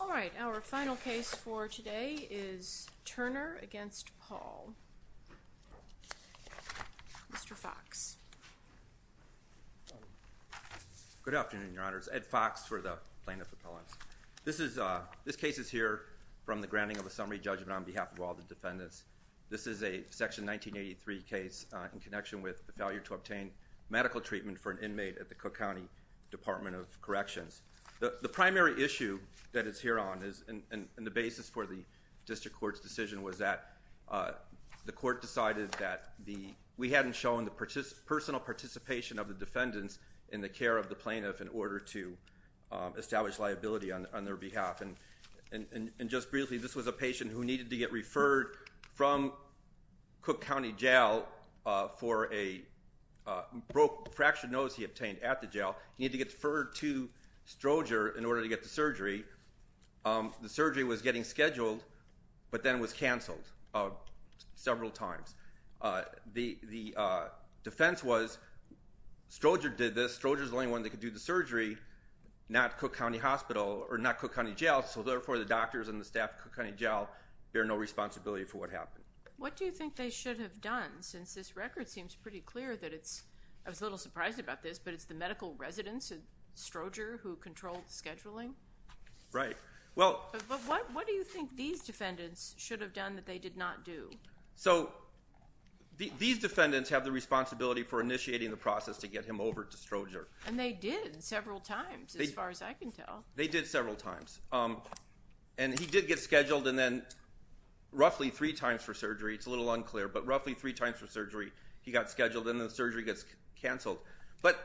All right, our final case for today is Turner v. Paul. Mr. Foxx. Good afternoon, Your Honors. Ed Foxx for the Plaintiff Appellants. This case is here from the granting of a summary judgment on behalf of all the defendants. This is a Section 1983 case in connection with the failure to obtain medical treatment for an inmate at the Cook County Department of Corrections. The primary issue that it's here on is, and the basis for the district court's decision, was that the court decided that we hadn't shown the personal participation of the defendants in the care of the plaintiff in order to establish liability on their behalf. And just briefly, this was a patient who needed to get referred from Cook County Jail for a fractured nose he obtained at the jail. He needed to get deferred to Stroger in order to get the surgery. The surgery was getting scheduled, but then was canceled several times. The defense was, Stroger did this, Stroger's the only one that could do the surgery, not Cook County Hospital, or not Cook County Jail, so therefore the doctors and the staff at Cook County Jail bear no responsibility for what happened. What do you think they should have done, since this record seems pretty clear that it's, I was a little surprised about this, but it's the medical residents at Stroger who controlled the scheduling? Right. Well. But what do you think these defendants should have done that they did not do? So, these defendants have the responsibility for initiating the process to get him over to Stroger. And they did, several times, as far as I can tell. They did several times. And he did get scheduled, and then roughly three times for surgery, it's a little unclear, but roughly three times for surgery he got scheduled, and the surgery gets canceled. But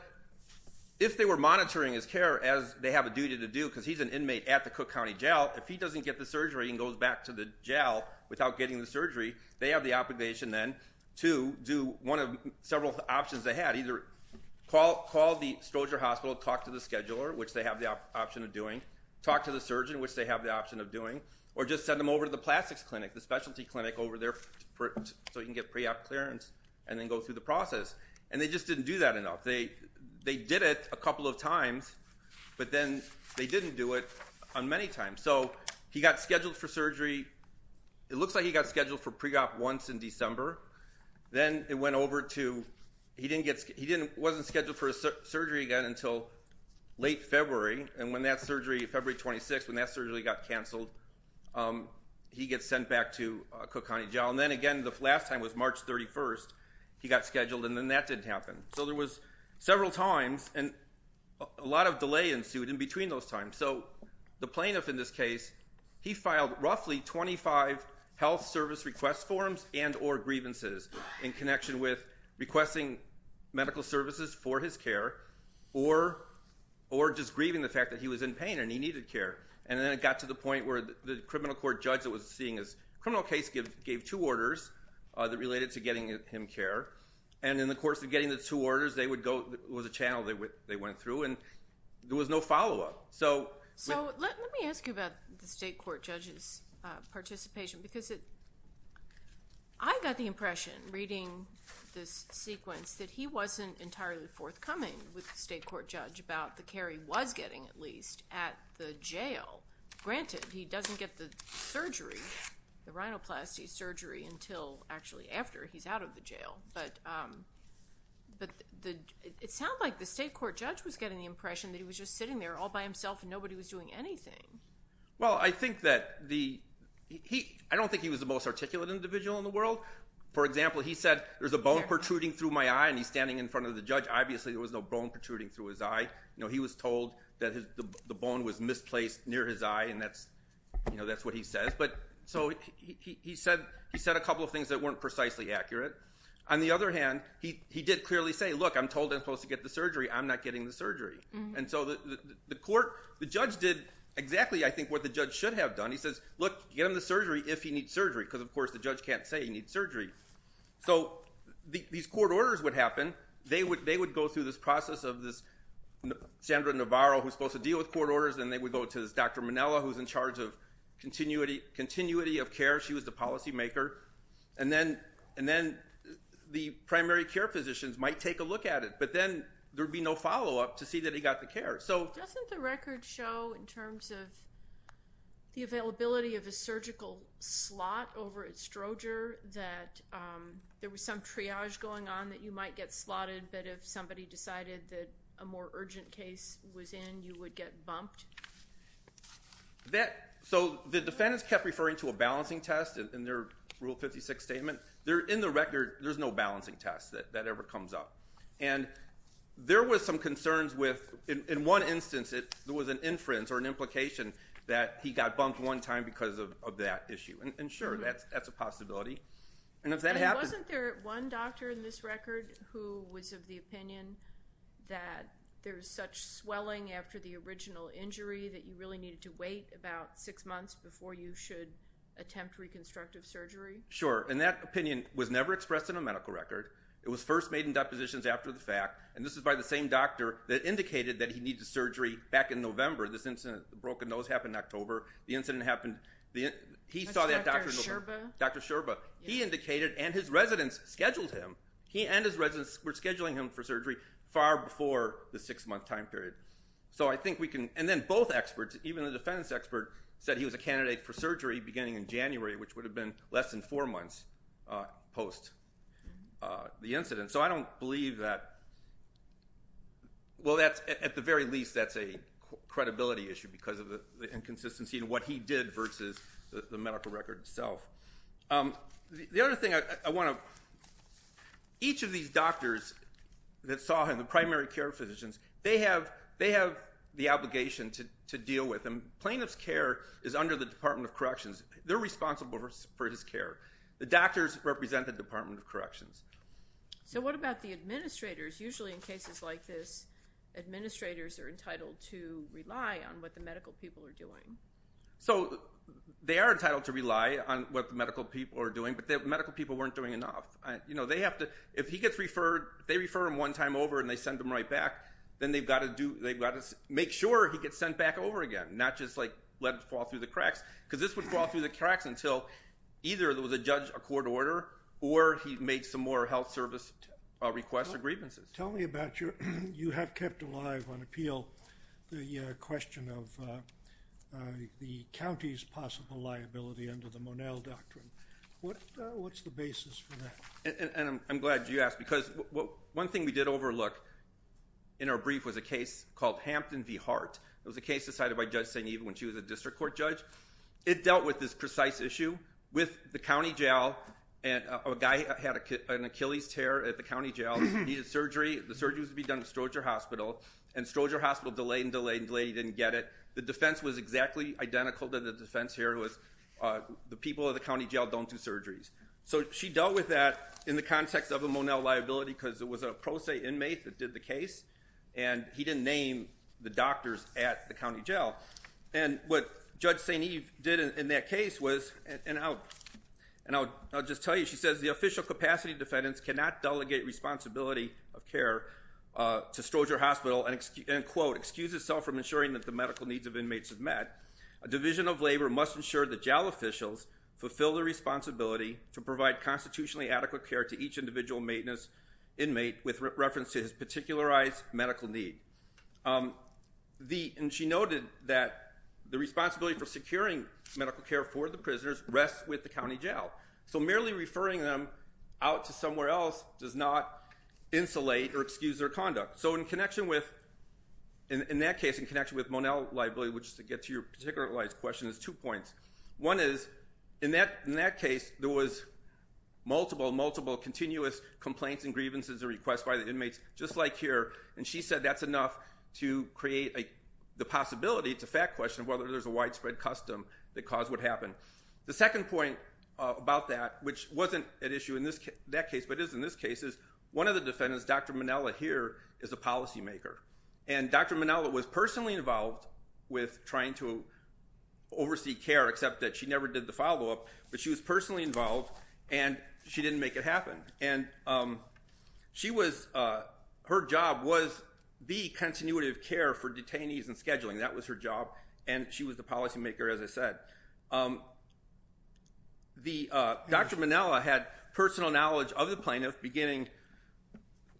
if they were monitoring his care as they have a duty to do, because he's an inmate at the Cook County Jail, if he doesn't get the surgery and goes back to the jail without getting the surgery, they have the obligation then to do one of several options they had. Either call the Stroger Hospital, talk to the scheduler, which they have the option of doing, talk to the surgeon, which they have the option of doing, or just send him over to the plastics clinic, the specialty clinic over there, so he can get pre-op clearance, and then go through the process. And they just didn't do that enough. They did it a couple of times, but then they didn't do it on many times. So, he got scheduled for surgery, it looks like he got scheduled for pre-op once in December, then it went over to, he didn't get, he didn't, wasn't scheduled for surgery again until late February, and when that surgery, February 26th, when that surgery got canceled, he gets sent back to Cook County Jail. And then again, the last time was March 31st, he got scheduled, and then that didn't happen. So there was several times, and a lot of delay ensued in between those times. So, the plaintiff in this case, he filed roughly 25 health service request forms and or grievances in connection with requesting medical services for his care, or just grieving the fact that he was in pain and he needed care. And then it got to the point where the criminal court judge that was seeing his criminal case gave two orders that related to getting him care, and in the course of getting the two orders, they would go, it was a channel they went through, and there was no follow-up. So, let me ask you about the state court judge's participation, because it, I got the impression reading this sequence that he wasn't entirely forthcoming with the state court judge about the care he was getting, at least, at the jail. Granted, he doesn't get the surgery, the rhinoplasty surgery, until actually after he's out of the jail, but it sounds like the court judge himself, nobody was doing anything. Well, I think that the, I don't think he was the most articulate individual in the world. For example, he said, there's a bone protruding through my eye, and he's standing in front of the judge. Obviously, there was no bone protruding through his eye. He was told that the bone was misplaced near his eye, and that's what he says. So, he said a couple of things that weren't precisely accurate. On the other hand, he did clearly say, look, I'm told I'm The judge did exactly, I think, what the judge should have done. He says, look, get him the surgery if he needs surgery, because, of course, the judge can't say he needs surgery. So, these court orders would happen. They would go through this process of this Sandra Navarro, who's supposed to deal with court orders, and they would go to this Dr. Manella, who's in charge of continuity of care. She was the policymaker. And then, the primary care physicians might take a look at it, but then there'd be no follow-up to see that he got the care. Doesn't the record show, in terms of the availability of a surgical slot over at Stroger, that there was some triage going on that you might get slotted, but if somebody decided that a more urgent case was in, you would get bumped? So, the defendants kept referring to a balancing test in their Rule 56 statement. In the record, there's no balancing test that ever comes up. And there was some concerns with, in one instance, there was an inference or an implication that he got bumped one time because of that issue. And sure, that's a possibility. And if that happens... And wasn't there one doctor in this record who was of the opinion that there's such swelling after the original injury that you really needed to wait about six months before you should attempt reconstructive surgery? Sure. And that opinion was never expressed in a medical record. It was first made in depositions after the fact. And this is by the same doctor that indicated that he needed surgery back in November. This incident, the broken nose, happened in October. The incident happened... Dr. Sherba? Dr. Sherba. He indicated, and his residents scheduled him. He and his residents were scheduling him for surgery far before the six-month time period. So, I think we can... And then, both experts, even the defendants' expert, said he was a candidate for surgery beginning in January, which would have been less than four months post the incident. So, I don't believe that... Well, at the very least, that's a credibility issue because of the inconsistency in what he did versus the medical record itself. The other thing I want to... Each of these doctors that saw him, the primary care physicians, they have the obligation to deal with him. Plaintiff's care is under the Department of Corrections. They're responsible for his care. The doctors represent the Department of Corrections. So, what about the administrators? Usually, in cases like this, administrators are entitled to rely on what the medical people are doing. So, they are entitled to rely on what the medical people are doing, but the medical people weren't doing enough. They have to... If he gets referred, they refer him one time over and they send him right back, then they've got to make sure he gets sent back over again, not just let him fall through the cracks, because this would fall through the cracks until either there was a judge, a court order, or he made some more health service requests or grievances. Tell me about your... You have kept alive on appeal the question of the county's possible liability under the Monell Doctrine. What's the basis for that? I'm glad you asked because one thing we did overlook in our brief was a case called Hampton v. Hart. It was a case decided by Judge St. Even when she was a district court judge. It dealt with this precise issue. With the county jail, a guy had an Achilles tear at the county jail and needed surgery. The surgery was to be done at Stroger Hospital, and Stroger Hospital delayed and delayed and delayed and didn't get it. The defense was exactly identical to the defense here. The people at the county jail don't do surgeries. So, she dealt with that in the context of a Monell liability because it was a pro se inmate that did the case, and he didn't name the doctors at the county jail. What Judge St. Eve did in that case was, and I'll just tell you, she says, the official capacity defendants cannot delegate responsibility of care to Stroger Hospital and, quote, excuse itself from ensuring that the medical needs of inmates are met. A division of labor must ensure that jail officials fulfill their responsibility to provide constitutionally adequate care to each individual maintenance inmate with reference to his particularized medical need. And she noted that the responsibility for securing medical care for the prisoners rests with the county jail. So, merely referring them out to somewhere else does not insulate or excuse their conduct. So, in connection with, in that case, in connection with Monell liability, which is to get to your particular question, is two points. One is, in that case, there was multiple, multiple continuous complaints and grievances or requests by the inmates, just like here, and she said that's enough to create the possibility, it's a fact question, whether there's a widespread custom that caused what happened. The second point about that, which wasn't at issue in that case but is in this case, is one of the defendants, Dr. Monella here, is a policymaker. And Dr. Monella was personally involved with trying to oversee care, except that she never did the follow-up. But she was personally involved, and she didn't make it happen. And she was, her job was the continuative care for detainees and scheduling. That was her job, and she was the policymaker, as I said. Dr. Monella had personal knowledge of the plaintiff, beginning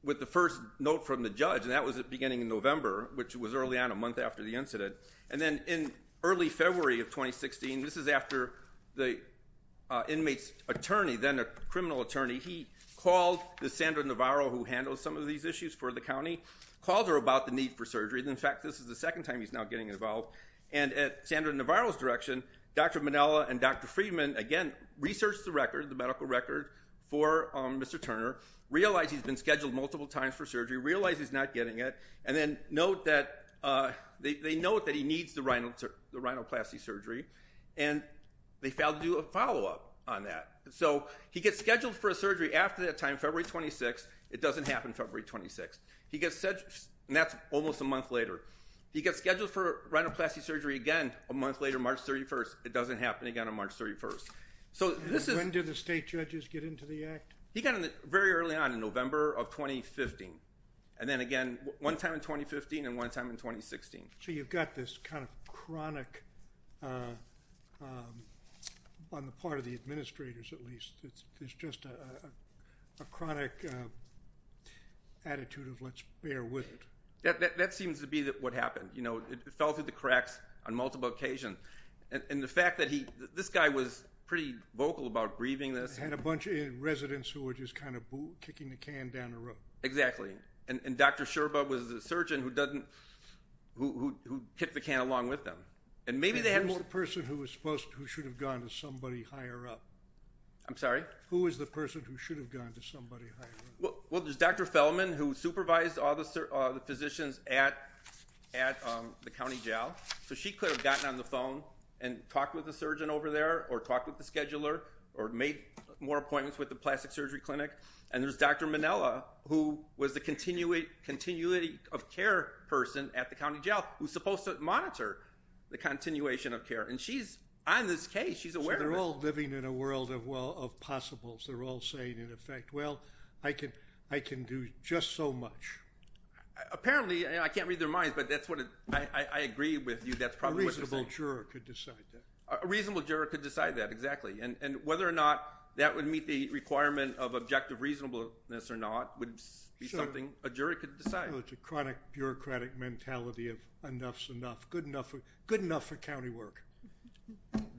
with the first note from the judge, and that was at the beginning of November, which was early on, a month after the incident. And then in early February of 2016, this is after the inmate's attorney, then a criminal attorney, he called Sandra Navarro, who handles some of these issues for the county, called her about the need for surgery. In fact, this is the second time he's now getting involved. And at Sandra Navarro's direction, Dr. Monella and Dr. Friedman, again, researched the record, the medical record for Mr. Turner, realized he's been scheduled multiple times for surgery, realized he's not getting it, and then they note that he needs the rhinoplasty surgery, and they failed to do a follow-up on that. So he gets scheduled for a surgery after that time, February 26th. It doesn't happen February 26th. And that's almost a month later. He gets scheduled for rhinoplasty surgery again a month later, March 31st. It doesn't happen again on March 31st. When did the state judges get into the act? He got in very early on in November of 2015, and then again one time in 2015 and one time in 2016. So you've got this kind of chronic, on the part of the administrators at least, there's just a chronic attitude of let's bear with it. That seems to be what happened. It fell through the cracks on multiple occasions. And the fact that this guy was pretty vocal about grieving this. He had a bunch of residents who were just kind of kicking the can down the road. Exactly. And Dr. Scherba was the surgeon who kicked the can along with them. And maybe they had more person who should have gone to somebody higher up. I'm sorry? Who is the person who should have gone to somebody higher up? Well, there's Dr. Fellman who supervised all the physicians at the county jail. So she could have gotten on the phone and talked with the surgeon over there or talked with the scheduler or made more appointments with the plastic surgery clinic. And there's Dr. Minella who was the continuity of care person at the county jail who's supposed to monitor the continuation of care. And she's on this case. She's aware of it. So they're all living in a world of possibles. They're all saying, in effect, well, I can do just so much. Apparently, and I can't read their minds, but that's what I agree with you. A reasonable juror could decide that. A reasonable juror could decide that, exactly. And whether or not that would meet the requirement of objective reasonableness or not would be something a jury could decide. Well, it's a chronic bureaucratic mentality of enough's enough, good enough for county work.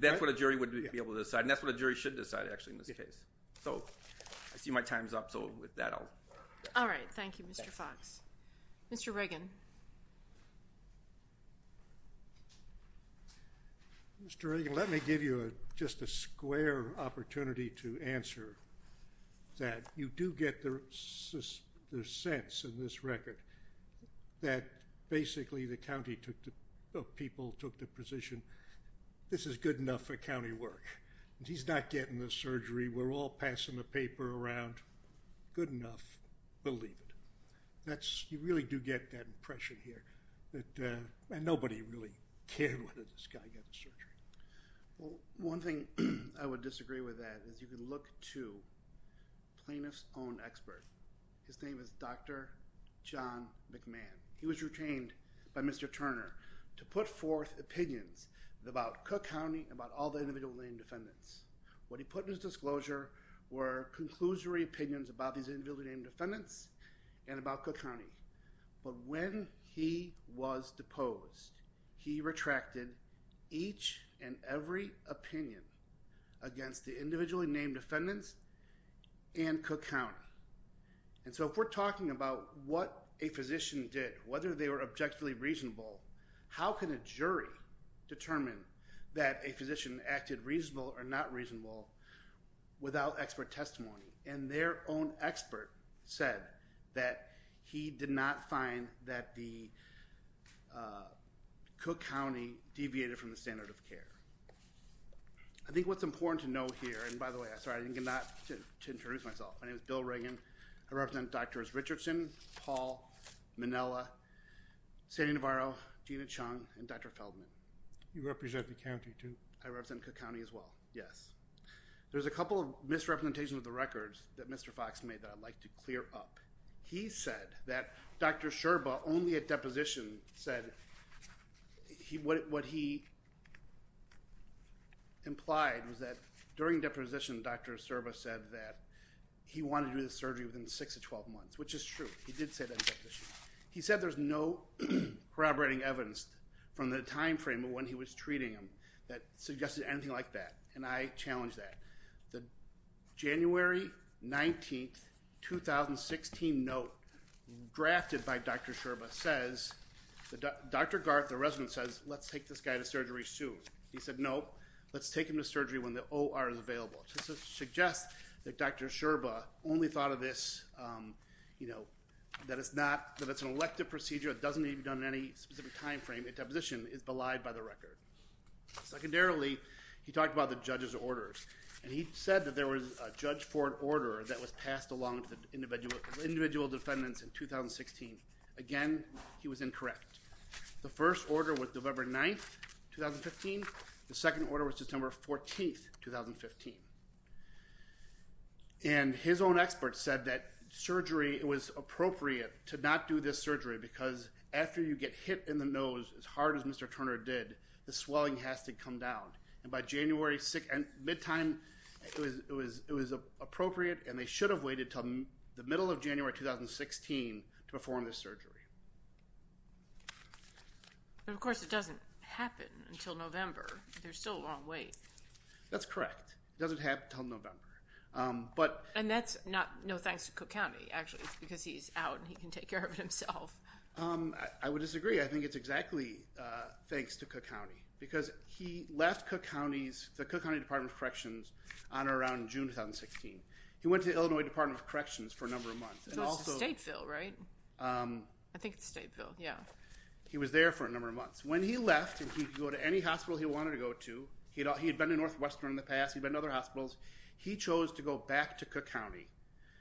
That's what a jury would be able to decide. And that's what a jury should decide, actually, in this case. So I see my time's up, so with that I'll. All right. Thank you, Mr. Fox. Mr. Reagan. Mr. Reagan, let me give you just a square opportunity to answer that. You do get the sense in this record that basically the county of people took the position, this is good enough for county work. He's not getting the surgery. We're all passing the paper around. Good enough. Believe it. You really do get that impression here that nobody really cared whether this guy got the surgery. Well, one thing I would disagree with that is you can look to plaintiff's own expert. His name is Dr. John McMahon. He was retained by Mr. Turner to put forth opinions about Cook County and about all the individual named defendants. What he put in his disclosure were conclusory opinions about these individual named defendants and about Cook County. But when he was deposed, he retracted each and every opinion against the individually named defendants and Cook County. And so if we're talking about what a physician did, whether they were objectively reasonable, how can a jury determine that a physician acted reasonable or not reasonable without expert testimony? And their own expert said that he did not find that the Cook County deviated from the standard of care. I think what's important to know here, and by the way, sorry, I did not get to introduce myself. My name is Bill Reagan. I represent Drs. Richardson, Paul, Minnella, Sandy Navarro, Gina Chung, and Dr. Feldman. You represent the county too? I represent Cook County as well, yes. There's a couple of misrepresentations of the records that Mr. Fox made that I'd like to clear up. He said that Dr. Sherba only at deposition said what he implied was that during deposition, Dr. Sherba said that he wanted to do the surgery within 6 to 12 months, which is true. He did say that at deposition. He said there's no corroborating evidence from the time frame of when he was treating him that suggested anything like that, and I challenge that. The January 19, 2016 note drafted by Dr. Sherba says, Dr. Garth, the resident, says, let's take this guy to surgery soon. He said, no, let's take him to surgery when the OR is available. This suggests that Dr. Sherba only thought of this, you know, that it's not, that it's an elective procedure. It doesn't need to be done at any specific time frame at deposition. It's belied by the record. Secondarily, he talked about the judge's orders, and he said that there was a judge for an order that was passed along to the individual defendants in 2016. Again, he was incorrect. The first order was November 9, 2015. The second order was September 14, 2015. And his own expert said that surgery, it was appropriate to not do this surgery because after you get hit in the nose as hard as Mr. Turner did, the swelling has to come down. And by January 6, mid-time, it was appropriate, and they should have waited until the middle of January 2016 to perform this surgery. But, of course, it doesn't happen until November. There's still a long wait. That's correct. It doesn't happen until November. And that's not, no thanks to Cook County, actually. It's because he's out, and he can take care of it himself. I would disagree. I think it's exactly thanks to Cook County because he left Cook County's, the Cook County Department of Corrections on around June 2016. He went to Illinois Department of Corrections for a number of months. So it's Stateville, right? I think it's Stateville, yeah. He was there for a number of months. When he left, and he could go to any hospital he wanted to go to. He had been to Northwestern in the past. He'd been to other hospitals. He chose to go back to Cook County,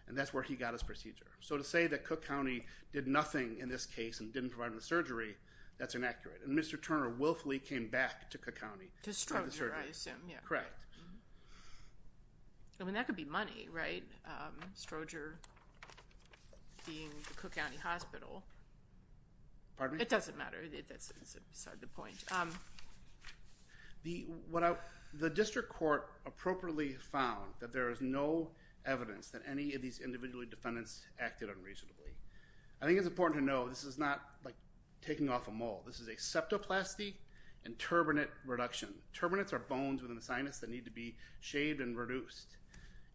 and that's where he got his procedure. So to say that Cook County did nothing in this case and didn't provide him the surgery, that's inaccurate. And Mr. Turner willfully came back to Cook County for the surgery. To Stroger, I assume, yeah. Correct. I mean, that could be money, right? Stroger being the Cook County Hospital. Pardon me? It doesn't matter. That's beside the point. The district court appropriately found that there is no evidence that any of these individual defendants acted unreasonably. I think it's important to know this is not like taking off a mole. This is a septoplasty and turbinate reduction. Turbinates are bones within the sinus that need to be shaved and reduced.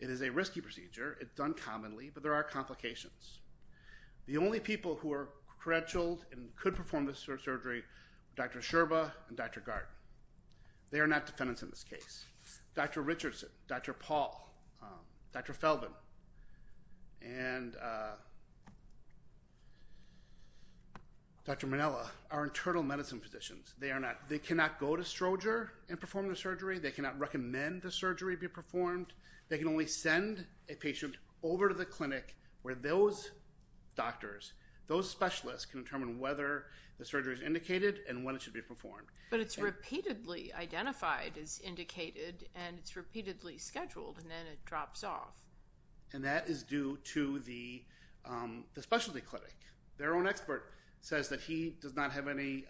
It is a risky procedure. It's done commonly, but there are complications. The only people who are credentialed and could perform this sort of surgery are Dr. Sherba and Dr. Gardner. They are not defendants in this case. Dr. Richardson, Dr. Paul, Dr. Feldman, and Dr. Manella are internal medicine physicians. They cannot go to Stroger and perform the surgery. They cannot recommend the surgery be performed. They can only send a patient over to the clinic where those doctors, those specialists, can determine whether the surgery is indicated and when it should be performed. But it's repeatedly identified as indicated, and it's repeatedly scheduled, and then it drops off. And that is due to the specialty clinic. Their own expert says that he does not have any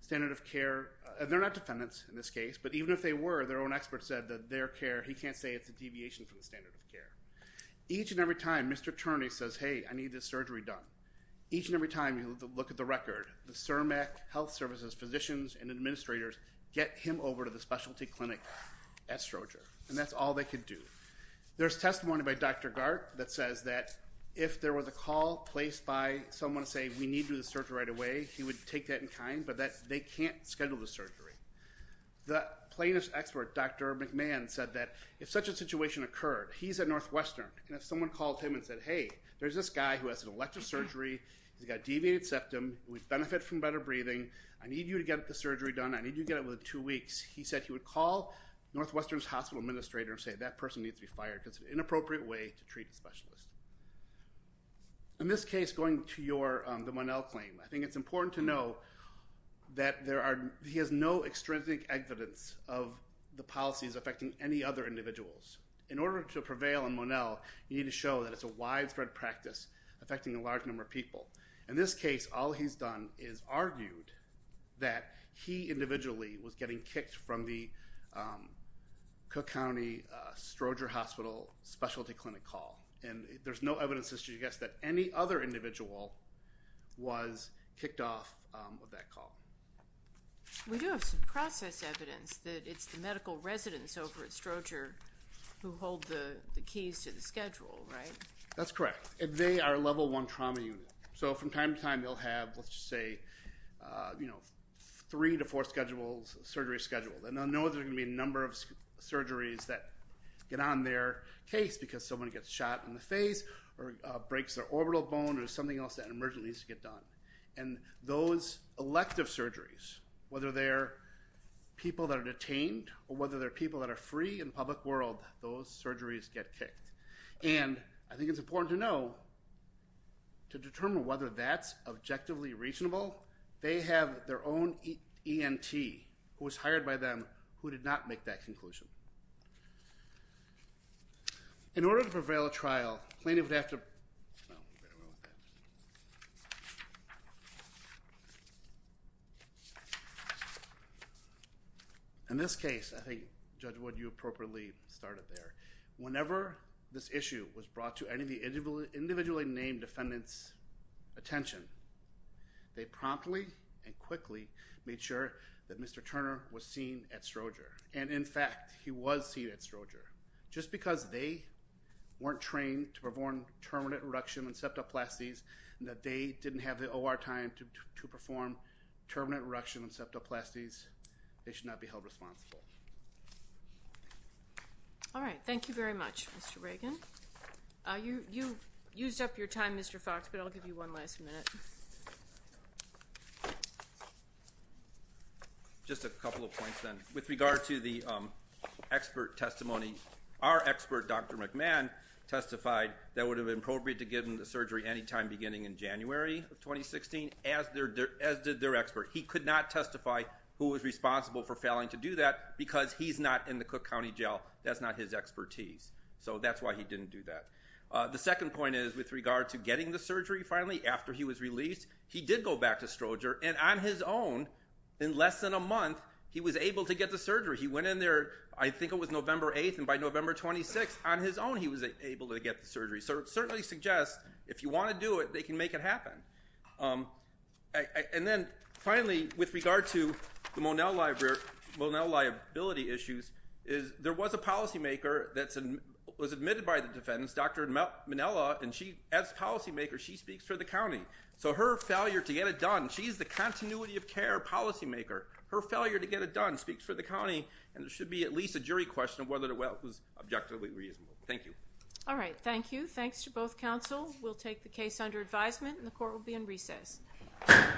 standard of care. They're not defendants in this case, but even if they were, their own expert said that their care, he can't say it's a deviation from the standard of care. Each and every time Mr. Turney says, hey, I need this surgery done, each and every time you look at the record, the CIRMAC health services physicians and administrators get him over to the specialty clinic at Stroger, and that's all they could do. There's testimony by Dr. Gardner that says that if there was a call placed by someone to say, we need to do the surgery right away, he would take that in kind. But they can't schedule the surgery. The plaintiff's expert, Dr. McMahon, said that if such a situation occurred, he's at Northwestern, and if someone called him and said, hey, there's this guy who has an elective surgery, he's got a deviated septum, who would benefit from better breathing, I need you to get the surgery done, I need you to get it within two weeks, he said he would call Northwestern's hospital administrator and say, that person needs to be fired because it's an inappropriate way to treat a specialist. In this case, going to your, the Monell claim, I think it's important to know that there are, he has no extrinsic evidence of the policies affecting any other individuals. In order to prevail in Monell, you need to show that it's a widespread practice affecting a large number of people. In this case, all he's done is argued that he individually was getting kicked from the Cook County Stroger Hospital specialty clinic call. And there's no evidence to suggest that any other individual was kicked off of that call. We do have some process evidence that it's the medical residents over at Stroger who hold the keys to the schedule, right? That's correct. And they are a level one trauma unit. So from time to time, they'll have, let's just say, you know, three to four schedules, surgery schedule. And they'll know there's going to be a number of surgeries that get on their case because someone gets shot in the face or breaks their orbital bone or something else that emergently needs to get done. And those elective surgeries, whether they're people that are detained or whether they're people that are free in the public world, those surgeries get kicked. And I think it's important to know, to determine whether that's objectively reasonable, they have their own ENT who was hired by them who did not make that conclusion. In order to prevail a trial, plaintiff would have to ______. In this case, I think, Judge Wood, you appropriately started there. Whenever this issue was brought to any of the individually named defendants' attention, they promptly and quickly made sure that Mr. Turner was seen at Stroger. And, in fact, he was seen at Stroger. Just because they weren't trained to perform terminate reduction encephaloplasties and that they didn't have the OR time to perform terminate reduction encephaloplasties, they should not be held responsible. All right. Thank you very much, Mr. Reagan. You used up your time, Mr. Fox, but I'll give you one last minute. Just a couple of points, then. With regard to the expert testimony, our expert, Dr. McMahon, testified that it would have been appropriate to give him the surgery any time beginning in January of 2016, as did their expert. He could not testify who was responsible for failing to do that because he's not in the Cook County Jail. That's not his expertise. So that's why he didn't do that. The second point is, with regard to getting the surgery, finally, after he was released, he did go back to Stroger, and on his own, in less than a month, he was able to get the surgery. He went in there, I think it was November 8th, and by November 26th, on his own he was able to get the surgery. So it certainly suggests, if you want to do it, they can make it happen. And then, finally, with regard to the Monell liability issues, there was a policymaker that was admitted by the defendants, Dr. Manella, and as policymaker, she speaks for the county. So her failure to get it done, she's the continuity of care policymaker. Her failure to get it done speaks for the county, and there should be at least a jury question of whether it was objectively reasonable. Thank you. All right, thank you. Thanks to both counsel. We'll take the case under advisement, and the court will be in recess. Thank you.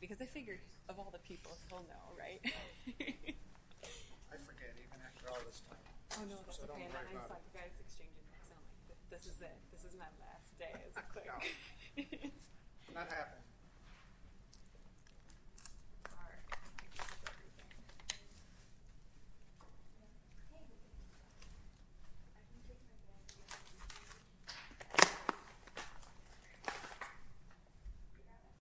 Because I figured, of all the people, he'll know, right?